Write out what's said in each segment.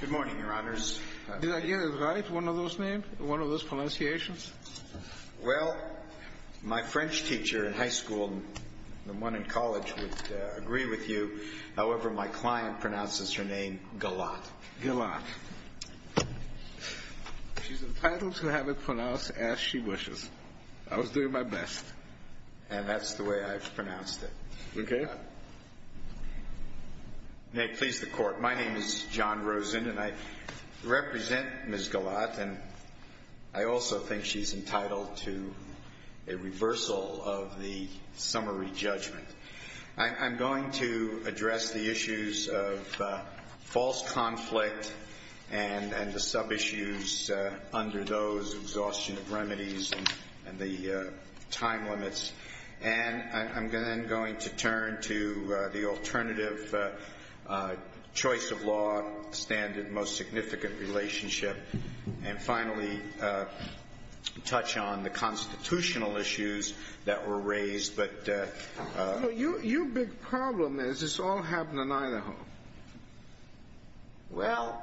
Good morning, Your Honors. Did I get it right, one of those names, one of those pronunciations? Well, my French teacher in high school and the one in college would agree with you. However, my client pronounces her name Galat. She's entitled to have it pronounced as she wishes. I was doing my best. And that's the way I've pronounced it. Okay. May it please the Court, my name is John Rosen and I represent Ms. Galat and I also think she's entitled to a reversal of the summary judgment. I'm going to address the issues of false conflict and the sub-issues under those exhaustion of remedies and the time limits. And I'm then going to turn to the alternative choice of law standard most significant relationship. And finally, touch on the constitutional issues that were raised. Your big problem is this all happened in Idaho. Well,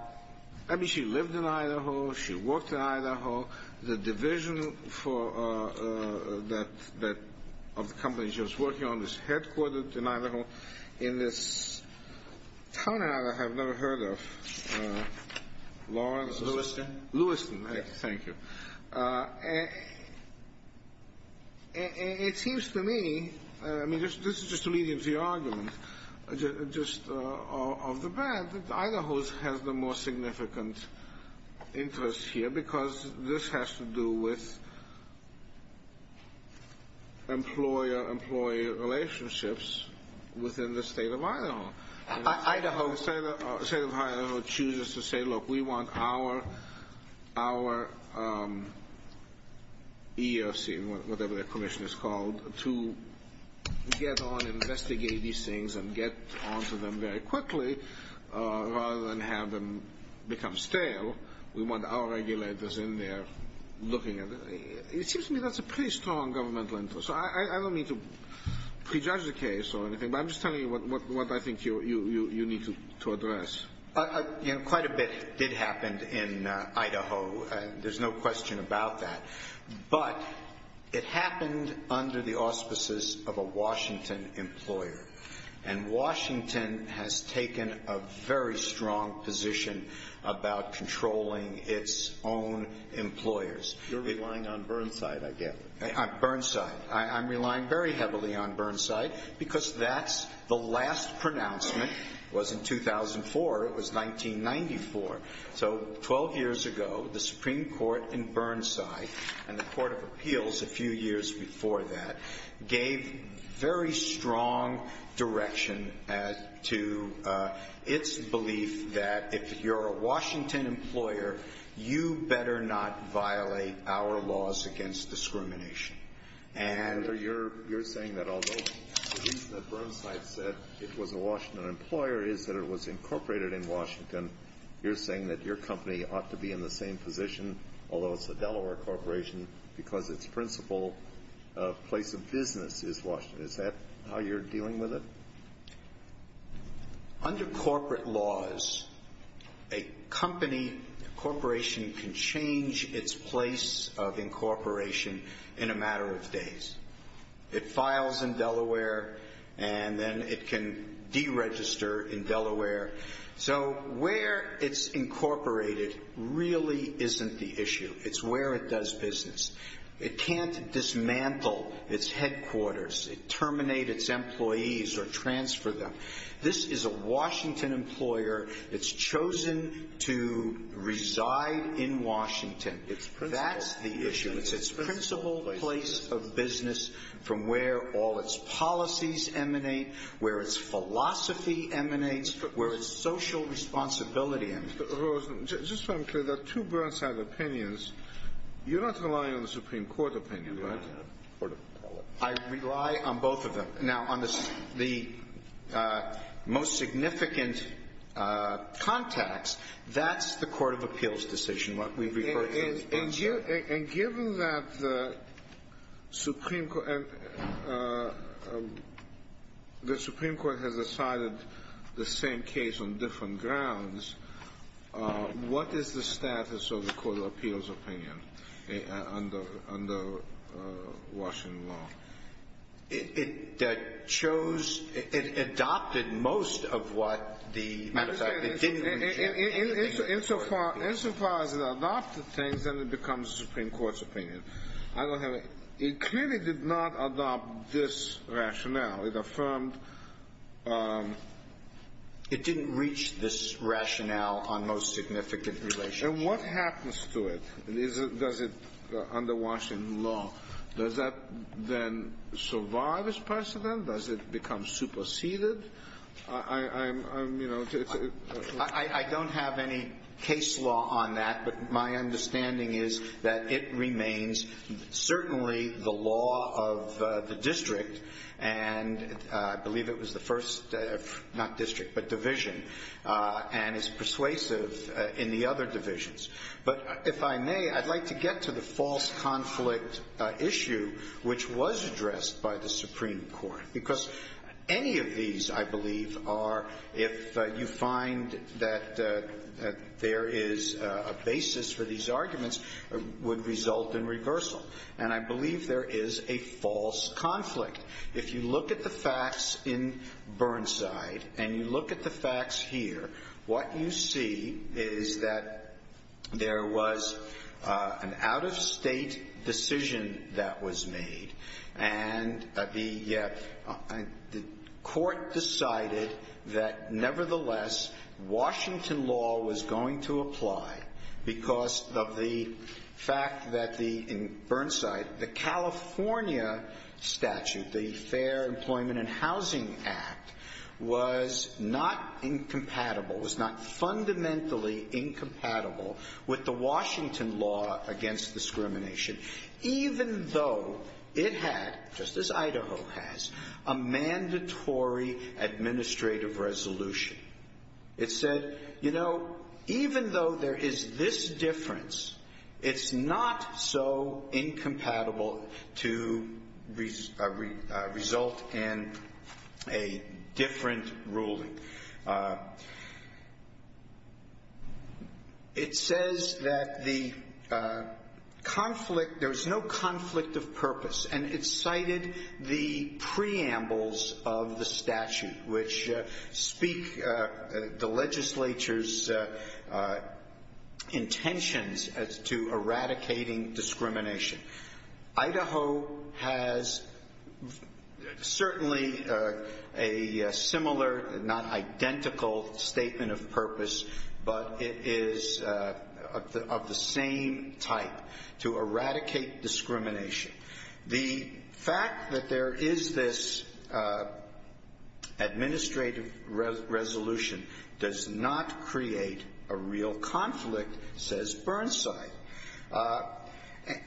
I mean, she lived in Idaho, she worked in Idaho, the division of the company she was working on was headquartered in Idaho. In this town I have never heard of, Lawrence? Lewiston. Lewiston. Thank you. It seems to me, I mean, this is just to lead into your argument, just off the bat, Idaho has the most significant interest here because this has to do with employer-employee relationships within the state of Idaho. The state of Idaho chooses to say, look, we want our EEOC, whatever their commission is called, to get on and investigate these things and get on to them very quickly rather than have them become stale. We want our regulators in there looking at it. It seems to me that's a pretty strong governmental interest. So I don't mean to prejudge the case or anything, but I'm just telling you what I think you need to address. Quite a bit did happen in Idaho. There's no question about that. But it happened under the auspices of a Washington employer. And Washington has taken a very strong position about controlling its own employers. You're relying on Burnside, I guess. Burnside. I'm relying very heavily on Burnside because that's the last pronouncement was in 2004. It was 1994. So 12 years ago, the Supreme Court in Burnside and the Court of Appeals a few years before that gave very strong direction to its belief that if you're a Washington employer, you better not violate our laws against discrimination. You're saying that although the reason that Burnside said it was a Washington employer is that it was incorporated in Washington, you're saying that your company ought to be in the same position, although it's a Delaware corporation, because its principal place of business is Washington. Is that how you're dealing with it? Under corporate laws, a company, a corporation can change its place of incorporation in a matter of days. It files in Delaware and then it can deregister in Delaware. So where it's incorporated really isn't the issue. It's where it does business. It can't dismantle its headquarters. It can't terminate its employees or transfer them. This is a Washington employer that's chosen to reside in Washington. That's the issue. It's its principal place of business from where all its policies emanate, where its philosophy emanates, where its social responsibility emanates. Just so I'm clear, there are two Burnside opinions. You're not relying on the Supreme Court opinion, right? I rely on both of them. Now, on the most significant contacts, that's the Court of Appeals decision, what we refer to as Burnside. And given that the Supreme Court has decided the same case on different grounds, what is the status of the Court of Appeals opinion under Washington law? It chose – it adopted most of what the – Insofar as it adopted things, then it becomes the Supreme Court's opinion. I don't have a – it clearly did not adopt this rationale. It affirmed – It didn't reach this rationale on most significant relationships. And what happens to it? Does it – under Washington law, does that then survive as precedent? Does it become superseded? I don't have any case law on that, but my understanding is that it remains certainly the law of the district. And I believe it was the first – not district, but division. And it's persuasive in the other divisions. But if I may, I'd like to get to the false conflict issue, which was addressed by the Supreme Court. Because any of these, I believe, are – if you find that there is a basis for these arguments, would result in reversal. And I believe there is a false conflict. If you look at the facts in Burnside and you look at the facts here, what you see is that there was an out-of-state decision that was made. And the court decided that, nevertheless, Washington law was going to apply because of the fact that the – in Burnside, the California statute, the Fair Employment and Housing Act, was not incompatible, was not fundamentally incompatible with the Washington law against discrimination, even though it had, just as Idaho has, a mandatory administrative resolution. It said, you know, even though there is this difference, it's not so incompatible to result in a different ruling. It says that the conflict – there was no conflict of purpose. And it cited the preambles of the statute, which speak the legislature's intentions as to eradicating discrimination. Idaho has certainly a similar, not identical, statement of purpose, but it is of the same type, to eradicate discrimination. The fact that there is this administrative resolution does not create a real conflict, says Burnside.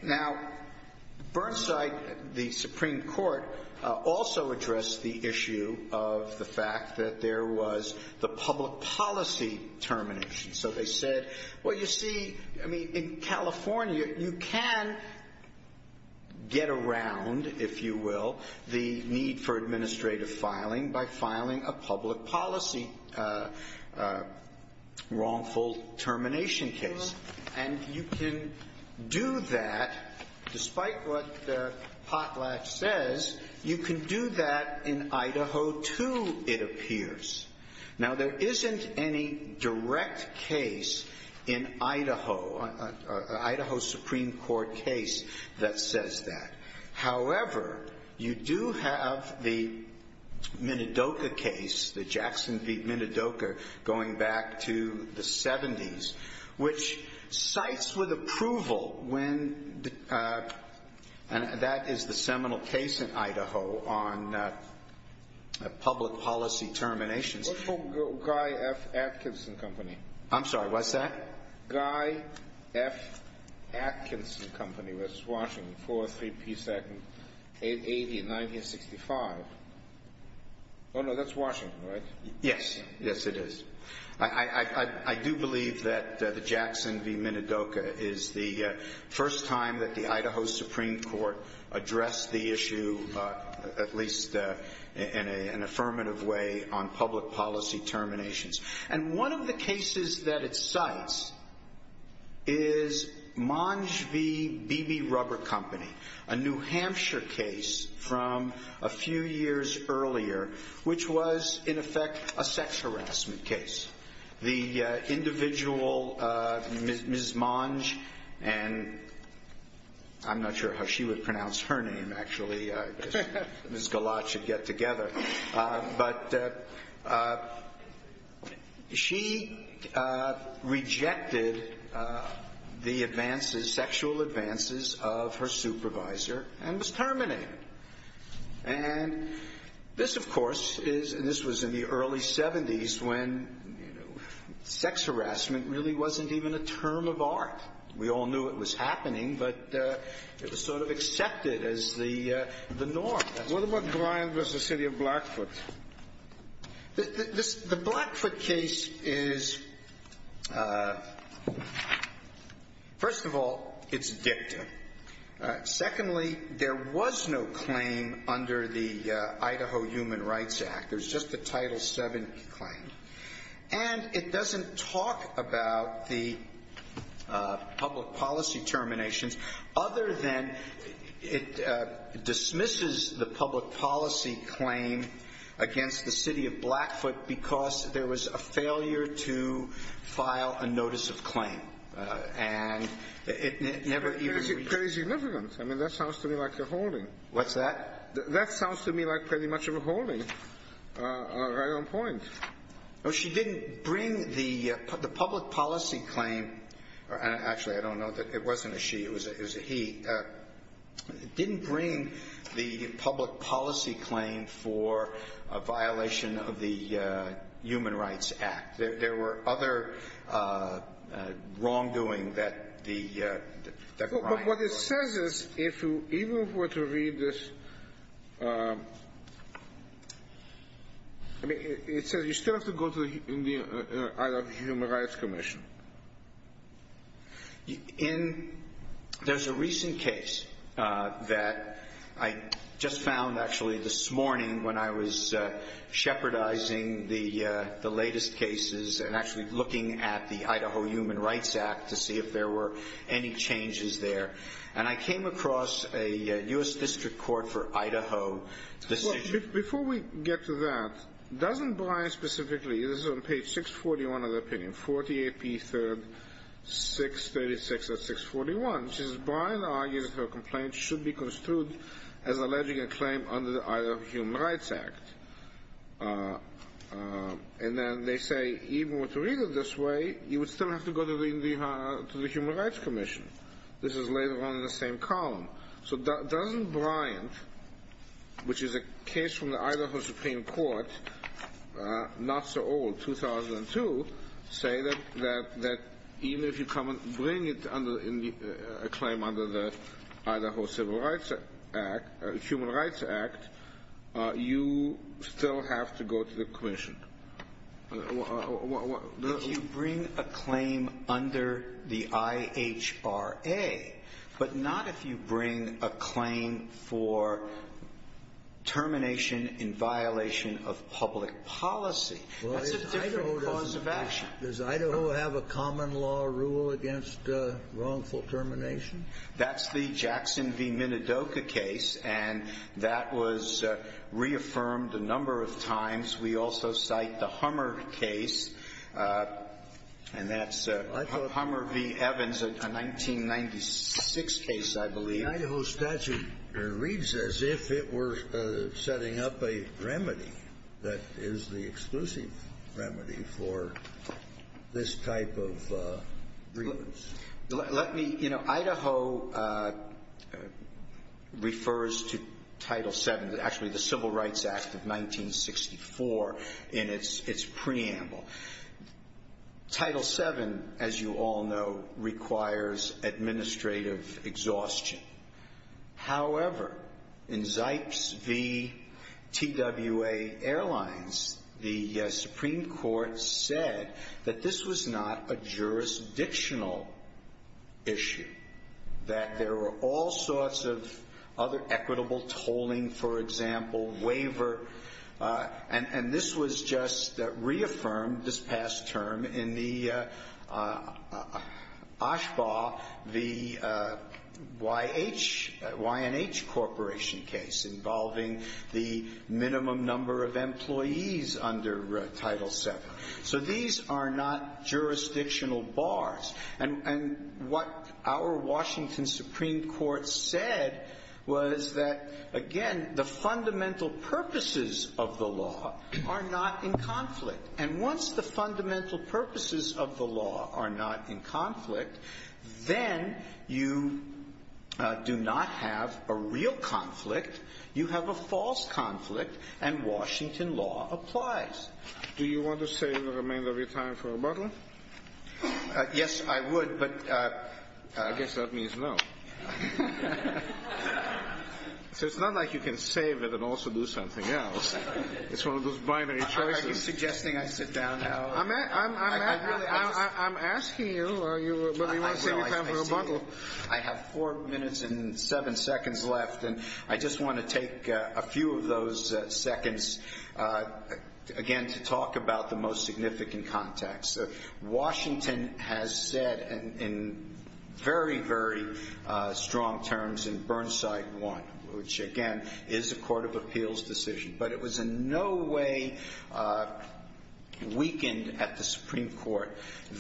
Now, Burnside, the Supreme Court, also addressed the issue of the fact that there was the public policy termination. So they said, well, you see, I mean, in California, you can get around, if you will, the need for administrative filing by filing a public policy wrongful termination case. And you can do that, despite what the potlatch says, you can do that in Idaho, too, it appears. Now, there isn't any direct case in Idaho, Idaho Supreme Court case, that says that. Which cites with approval when – and that is the seminal case in Idaho on public policy terminations. What about Guy F. Atkinson Company? I'm sorry, what's that? Guy F. Atkinson Company, which is Washington, 432nd 80, 1965. Oh, no, that's Washington, right? Yes. Yes, it is. I do believe that the Jackson v. Minidoka is the first time that the Idaho Supreme Court addressed the issue, at least in an affirmative way, on public policy terminations. And one of the cases that it cites is Monge v. BB Rubber Company, a New Hampshire case from a few years earlier, which was, in effect, a sex harassment case. The individual, Ms. Monge, and I'm not sure how she would pronounce her name, actually, because Ms. Galat should get together. But she rejected the advances, sexual advances of her supervisor and was terminated. And this, of course, is – and this was in the early 70s when, you know, sex harassment really wasn't even a term of art. We all knew it was happening, but it was sort of accepted as the norm. What about Glynde v. The City of Blackfoot? The Blackfoot case is – first of all, it's dicta. Secondly, there was no claim under the Idaho Human Rights Act. There's just the Title VII claim. And it doesn't talk about the public policy terminations, other than it dismisses the public policy claim against the City of Blackfoot because there was a failure to file a notice of claim. And it never even – Very significant. I mean, that sounds to me like a holding. What's that? That sounds to me like pretty much a holding, right on point. No, she didn't bring the public policy claim – or actually, I don't know. It wasn't a she. It was a he. Didn't bring the public policy claim for a violation of the Human Rights Act. There were other wrongdoing that the – But what it says is, if you even were to read this, it says you still have to go to the Idaho Human Rights Commission. There's a recent case that I just found actually this morning when I was shepherdizing the latest cases and actually looking at the Idaho Human Rights Act to see if there were any changes there. And I came across a U.S. District Court for Idaho decision. Before we get to that, doesn't Brian specifically – this is on page 641 of the opinion, 40 AP 3rd, 636 of 641. It says, Brian argues that her complaint should be construed as alleging a claim under the Idaho Human Rights Act. And then they say, even with reading it this way, you would still have to go to the Human Rights Commission. This is later on in the same column. So doesn't Brian, which is a case from the Idaho Supreme Court, not so old, 2002, say that even if you come and bring a claim under the Idaho Human Rights Act, you still have to go to the commission? If you bring a claim under the IHRA, but not if you bring a claim for termination in violation of public policy. That's a different cause of action. Does Idaho have a common law rule against wrongful termination? That's the Jackson v. Minidoka case, and that was reaffirmed a number of times. We also cite the Hummer case, and that's Hummer v. Evans, a 1996 case, I believe. The Idaho statute reads as if it were setting up a remedy that is the exclusive remedy for this type of grievance. Idaho refers to Title VII, actually the Civil Rights Act of 1964, in its preamble. Title VII, as you all know, requires administrative exhaustion. However, in Zipes v. TWA Airlines, the Supreme Court said that this was not a jurisdictional issue, that there were all sorts of other equitable tolling, for example, waiver, and this was just reaffirmed this past term in the Oshbaugh v. YNH Corporation case, involving the minimum number of employees under Title VII. So these are not jurisdictional bars. And what our Washington Supreme Court said was that, again, the fundamental purposes of the law are not in conflict. And once the fundamental purposes of the law are not in conflict, then you do not have a real conflict. You have a false conflict, and Washington law applies. Do you want to say the remainder of your time for rebuttal? Yes, I would, but I guess that means no. So it's not like you can save it and also do something else. It's one of those binary choices. Are you suggesting I sit down now? I'm asking you whether you want to say your time for rebuttal. I have four minutes and seven seconds left, and I just want to take a few of those seconds, again, to talk about the most significant context. Washington has said in very, very strong terms in Burnside 1, which, again, is a court of appeals decision, but it was in no way weakened at the Supreme Court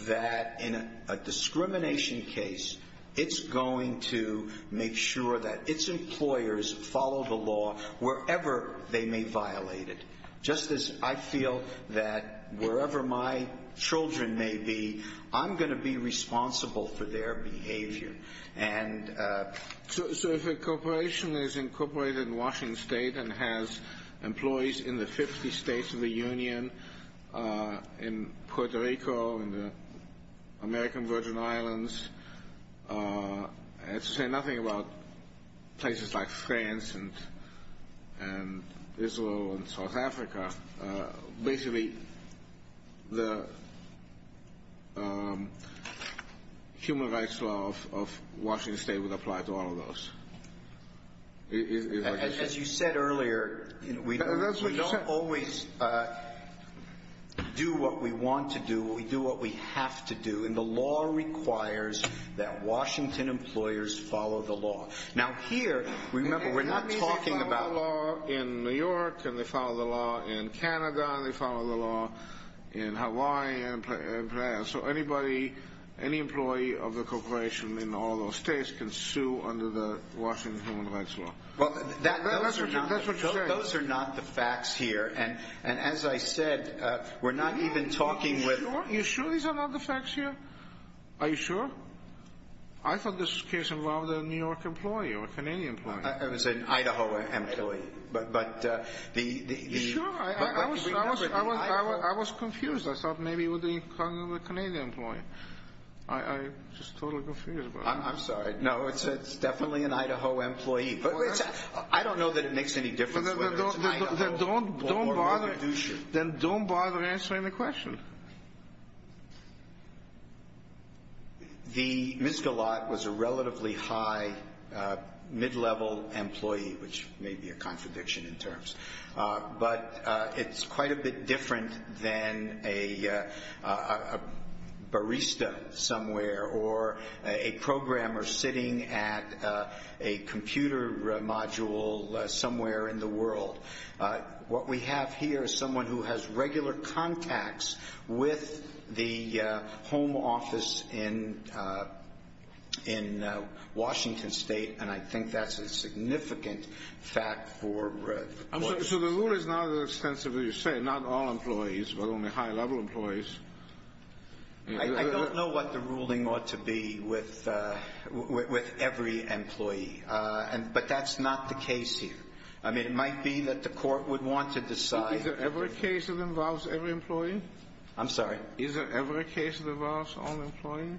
that in a discrimination case, it's going to make sure that its employers follow the law wherever they may violate it. Just as I feel that wherever my children may be, I'm going to be responsible for their behavior. So if a corporation is incorporated in Washington State and has employees in the 50 states of the union, in Puerto Rico, in the American Virgin Islands, and say nothing about places like France and Israel and South Africa, basically the human rights law of Washington State would apply to all of those. As you said earlier, we don't always do what we want to do. We do what we have to do, and the law requires that Washington employers follow the law. Now, here, remember, we're not talking about law in New York, and they follow the law in Canada, and they follow the law in Hawaii, and so anybody, any employee of the corporation in all those states can sue under the Washington human rights law. Well, that's what you're saying. Those are not the facts here, and as I said, we're not even talking with— Are you sure these are not the facts here? Are you sure? I thought this case involved a New York employee or a Canadian employee. It was an Idaho employee, but the— Are you sure? I was confused. I thought maybe it was a Canadian employee. I'm just totally confused. I'm sorry. No, it's definitely an Idaho employee. I don't know that it makes any difference whether it's Idaho or Medici. Then don't bother answering the question. The misguided was a relatively high, mid-level employee, which may be a contradiction in terms, but it's quite a bit different than a barista somewhere or a programmer sitting at a computer module somewhere in the world. What we have here is someone who has regular contacts with the home office in Washington State, and I think that's a significant fact for— I'm sorry. So the rule is not as extensive as you say. Not all employees, but only high-level employees. I don't know what the ruling ought to be with every employee, but that's not the case here. I mean, it might be that the Court would want to decide— Is there ever a case that involves every employee? I'm sorry? Is there ever a case that involves all employees?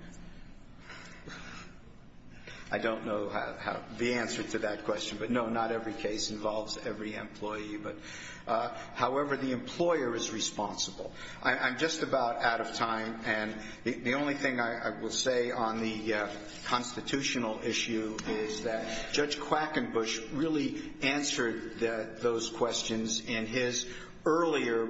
I don't know the answer to that question, but no, not every case involves every employee. However, the employer is responsible. I'm just about out of time, and the only thing I will say on the constitutional issue is that Judge Quackenbush really answered those questions in his earlier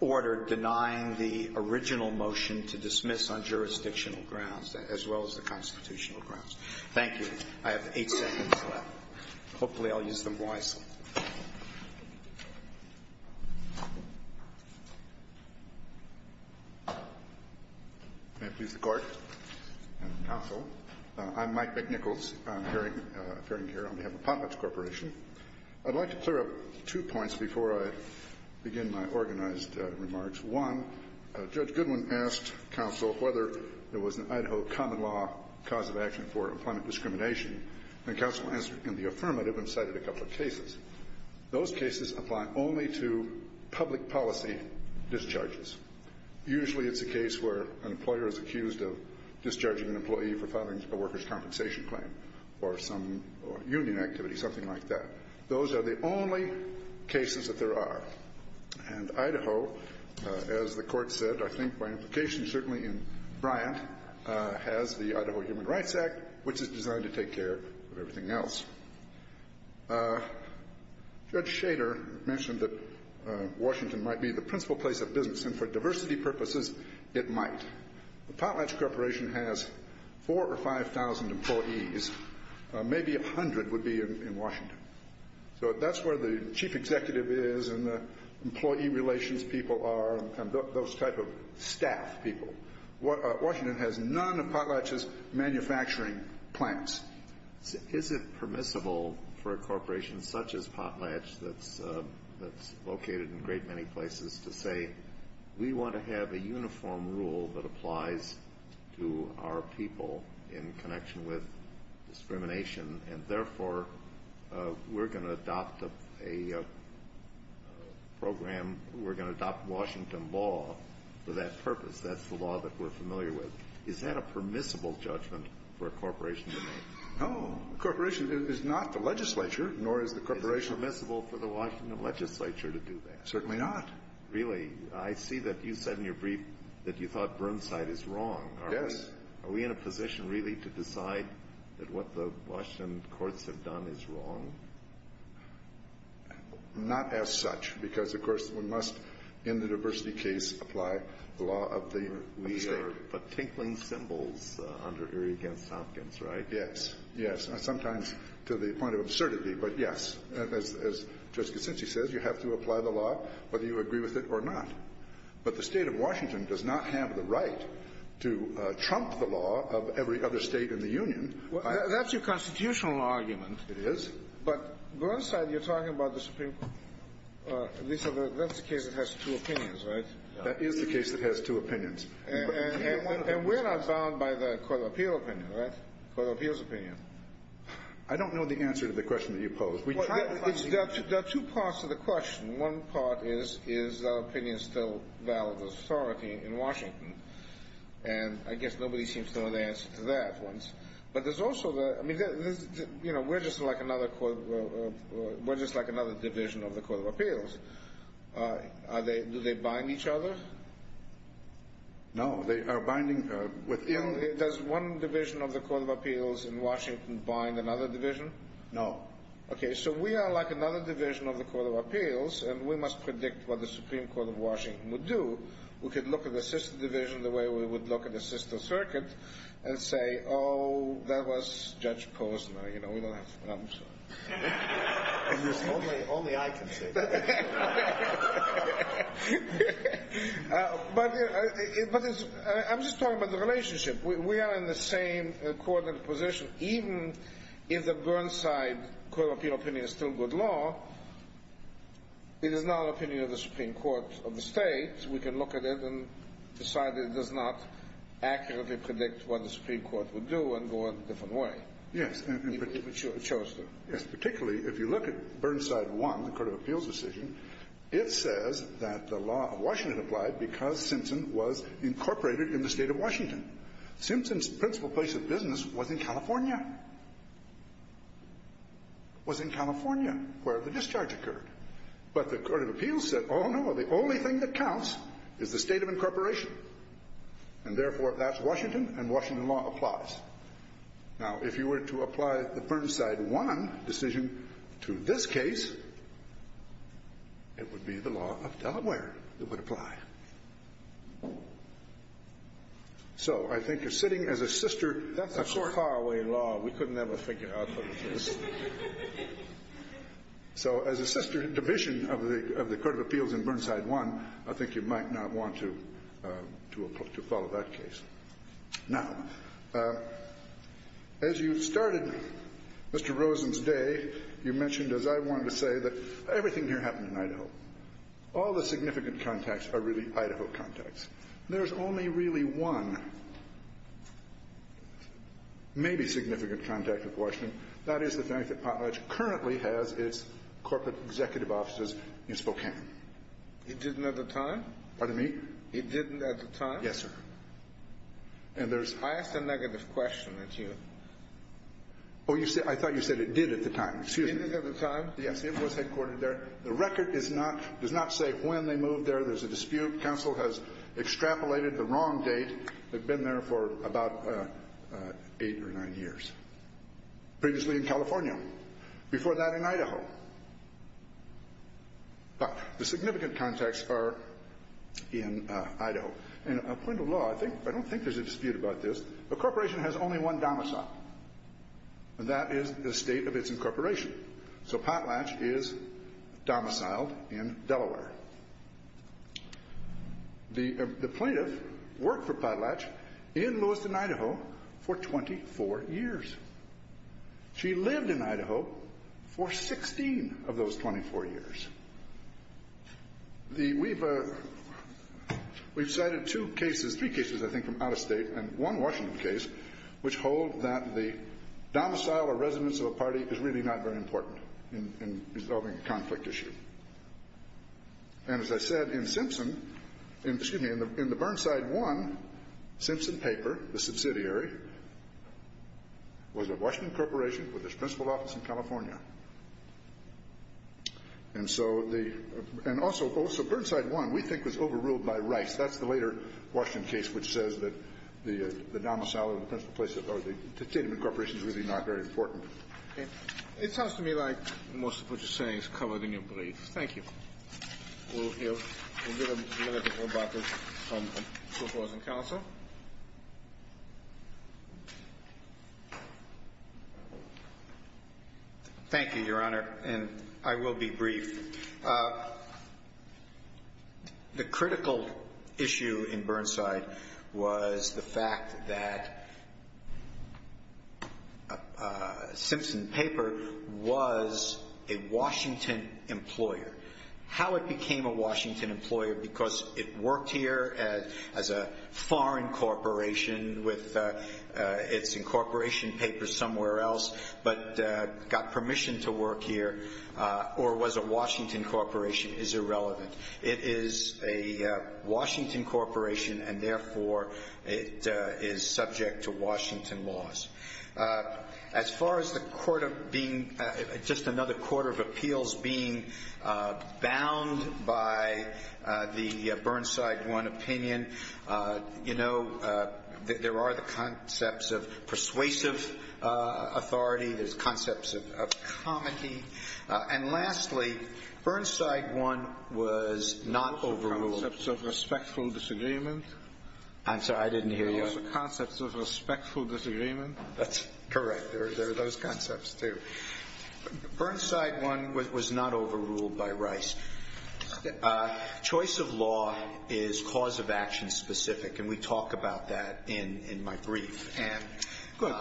order denying the original motion to dismiss on jurisdictional grounds as well as the constitutional grounds. Thank you. I have eight seconds left. Hopefully I'll use them wisely. May it please the Court and the Counsel. I'm Mike McNichols, appearing here on behalf of Potlatch Corporation. I'd like to clear up two points before I begin my organized remarks. One, Judge Goodwin asked counsel whether there was an Idaho common law cause of action for employment discrimination, and counsel answered in the affirmative and cited a couple of cases. Those cases apply only to public policy discharges. Usually it's a case where an employer is accused of discharging an employee for filing a workers' compensation claim or some union activity, something like that. Those are the only cases that there are. And Idaho, as the Court said, I think by implication certainly in Bryant, has the Idaho Human Rights Act, which is designed to take care of everything else. Judge Shader mentioned that Washington might be the principal place of business, and for diversity purposes it might. The Potlatch Corporation has 4,000 or 5,000 employees. Maybe 100 would be in Washington. So that's where the chief executive is and the employee relations people are and those type of staff people. Washington has none of Potlatch's manufacturing plants. Is it permissible for a corporation such as Potlatch that's located in a great many places to say, we want to have a uniform rule that applies to our people in connection with discrimination, and therefore we're going to adopt a program, we're going to adopt Washington law for that purpose? That's the law that we're familiar with. Is that a permissible judgment for a corporation to make? No. A corporation is not the legislature, nor is the corporation. Is it permissible for the Washington legislature to do that? Certainly not. Really? I see that you said in your brief that you thought Burnside is wrong. Yes. Are we in a position really to decide that what the Washington courts have done is wrong? Not as such, because, of course, we must, in the diversity case, apply the law of the state. We are but tinkling cymbals under Erie v. Hopkins, right? Yes, yes. Sometimes to the point of absurdity, but yes. As Justice Kitsinci says, you have to apply the law whether you agree with it or not. But the State of Washington does not have the right to trump the law of every other State in the Union. That's your constitutional argument. It is. But Burnside, you're talking about the Supreme Court. That's the case that has two opinions, right? That is the case that has two opinions. And we're not bound by the Court of Appeal opinion, right? Court of Appeal's opinion. I don't know the answer to the question that you posed. There are two parts to the question. One part is, is our opinion still valid authority in Washington? And I guess nobody seems to know the answer to that one. But there's also the – I mean, we're just like another division of the Court of Appeals. Do they bind each other? No. They are binding – Does one division of the Court of Appeals in Washington bind another division? No. Okay, so we are like another division of the Court of Appeals, and we must predict what the Supreme Court of Washington would do. We could look at the sister division the way we would look at the sister circuit and say, oh, that was Judge Posner. You know, we don't have trump. Only I can say that. But I'm just talking about the relationship. We are in the same coordinated position. Even if the Burnside Court of Appeal opinion is still good law, it is not an opinion of the Supreme Court of the State. We can look at it and decide that it does not accurately predict what the Supreme Court would do and go out a different way. Yes. Particularly if you look at Burnside 1, the Court of Appeals decision, it says that the law of Washington applied because Simpson was incorporated in the State of Washington. Simpson's principal place of business was in California. It was in California where the discharge occurred. But the Court of Appeals said, oh, no, the only thing that counts is the state of incorporation. And, therefore, that's Washington, and Washington law applies. Now, if you were to apply the Burnside 1 decision to this case, it would be the law of Delaware that would apply. So I think you're sitting, as a sister, a far away law. We couldn't ever figure out how to do this. So as a sister division of the Court of Appeals in Burnside 1, I think you might not want to follow that case. Now, as you started Mr. Rosen's day, you mentioned, as I wanted to say, that everything here happened in Idaho. All the significant contacts are really Idaho contacts. There's only really one maybe significant contact with Washington. That is the fact that Potlatch currently has its corporate executive offices in Spokane. It didn't at the time? Pardon me? It didn't at the time? Yes, sir. And there's – I asked a negative question at you. Oh, you said – I thought you said it did at the time. Excuse me. It didn't at the time? Yes, it was headquartered there. The record is not – does not say when they moved there. There's a dispute. Counsel has extrapolated the wrong date. They've been there for about eight or nine years, previously in California, before that in Idaho. But the significant contacts are in Idaho. And a point of law, I don't think there's a dispute about this. A corporation has only one domicile, and that is the state of its incorporation. So Potlatch is domiciled in Delaware. The plaintiff worked for Potlatch in Lewiston, Idaho, for 24 years. She lived in Idaho for 16 of those 24 years. We've cited two cases – three cases, I think, from out of state and one Washington case which hold that the domicile or residence of a party is really not very important in resolving a conflict issue. And as I said, in Simpson – excuse me, in the Burnside One, Simpson Paper, the subsidiary, was a Washington corporation with its principal office in California. And so the – and also Burnside One, we think, was overruled by Rice. That's the later Washington case which says that the domicile or the state of incorporation is really not very important. Okay. It sounds to me like most of what you're saying is covered in your brief. Thank you. We'll hear – we'll get a little bit more about this from the Socialism Council. And I will be brief. Thank you. The critical issue in Burnside was the fact that Simpson Paper was a Washington employer. How it became a Washington employer because it worked here as a foreign corporation with its incorporation papers somewhere else but got permission to work here or was a Washington corporation is irrelevant. It is a Washington corporation and, therefore, it is subject to Washington laws. As far as the court of being – just another court of appeals being bound by the Burnside One opinion, you know, there are the concepts of persuasive authority. There's concepts of comity. And, lastly, Burnside One was not overruled. Concepts of respectful disagreement. I'm sorry. I didn't hear you. Concepts of respectful disagreement. That's correct. There are those concepts too. Burnside One was not overruled by Rice. Choice of law is cause-of-action specific, and we talk about that in my brief. Good.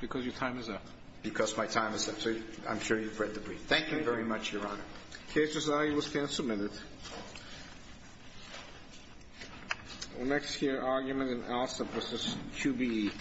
Because your time is up. Because my time is up. So I'm sure you've read the brief. Thank you very much, Your Honor. The case is now at your stand for a minute. The next here argument in Alsop versus QBE.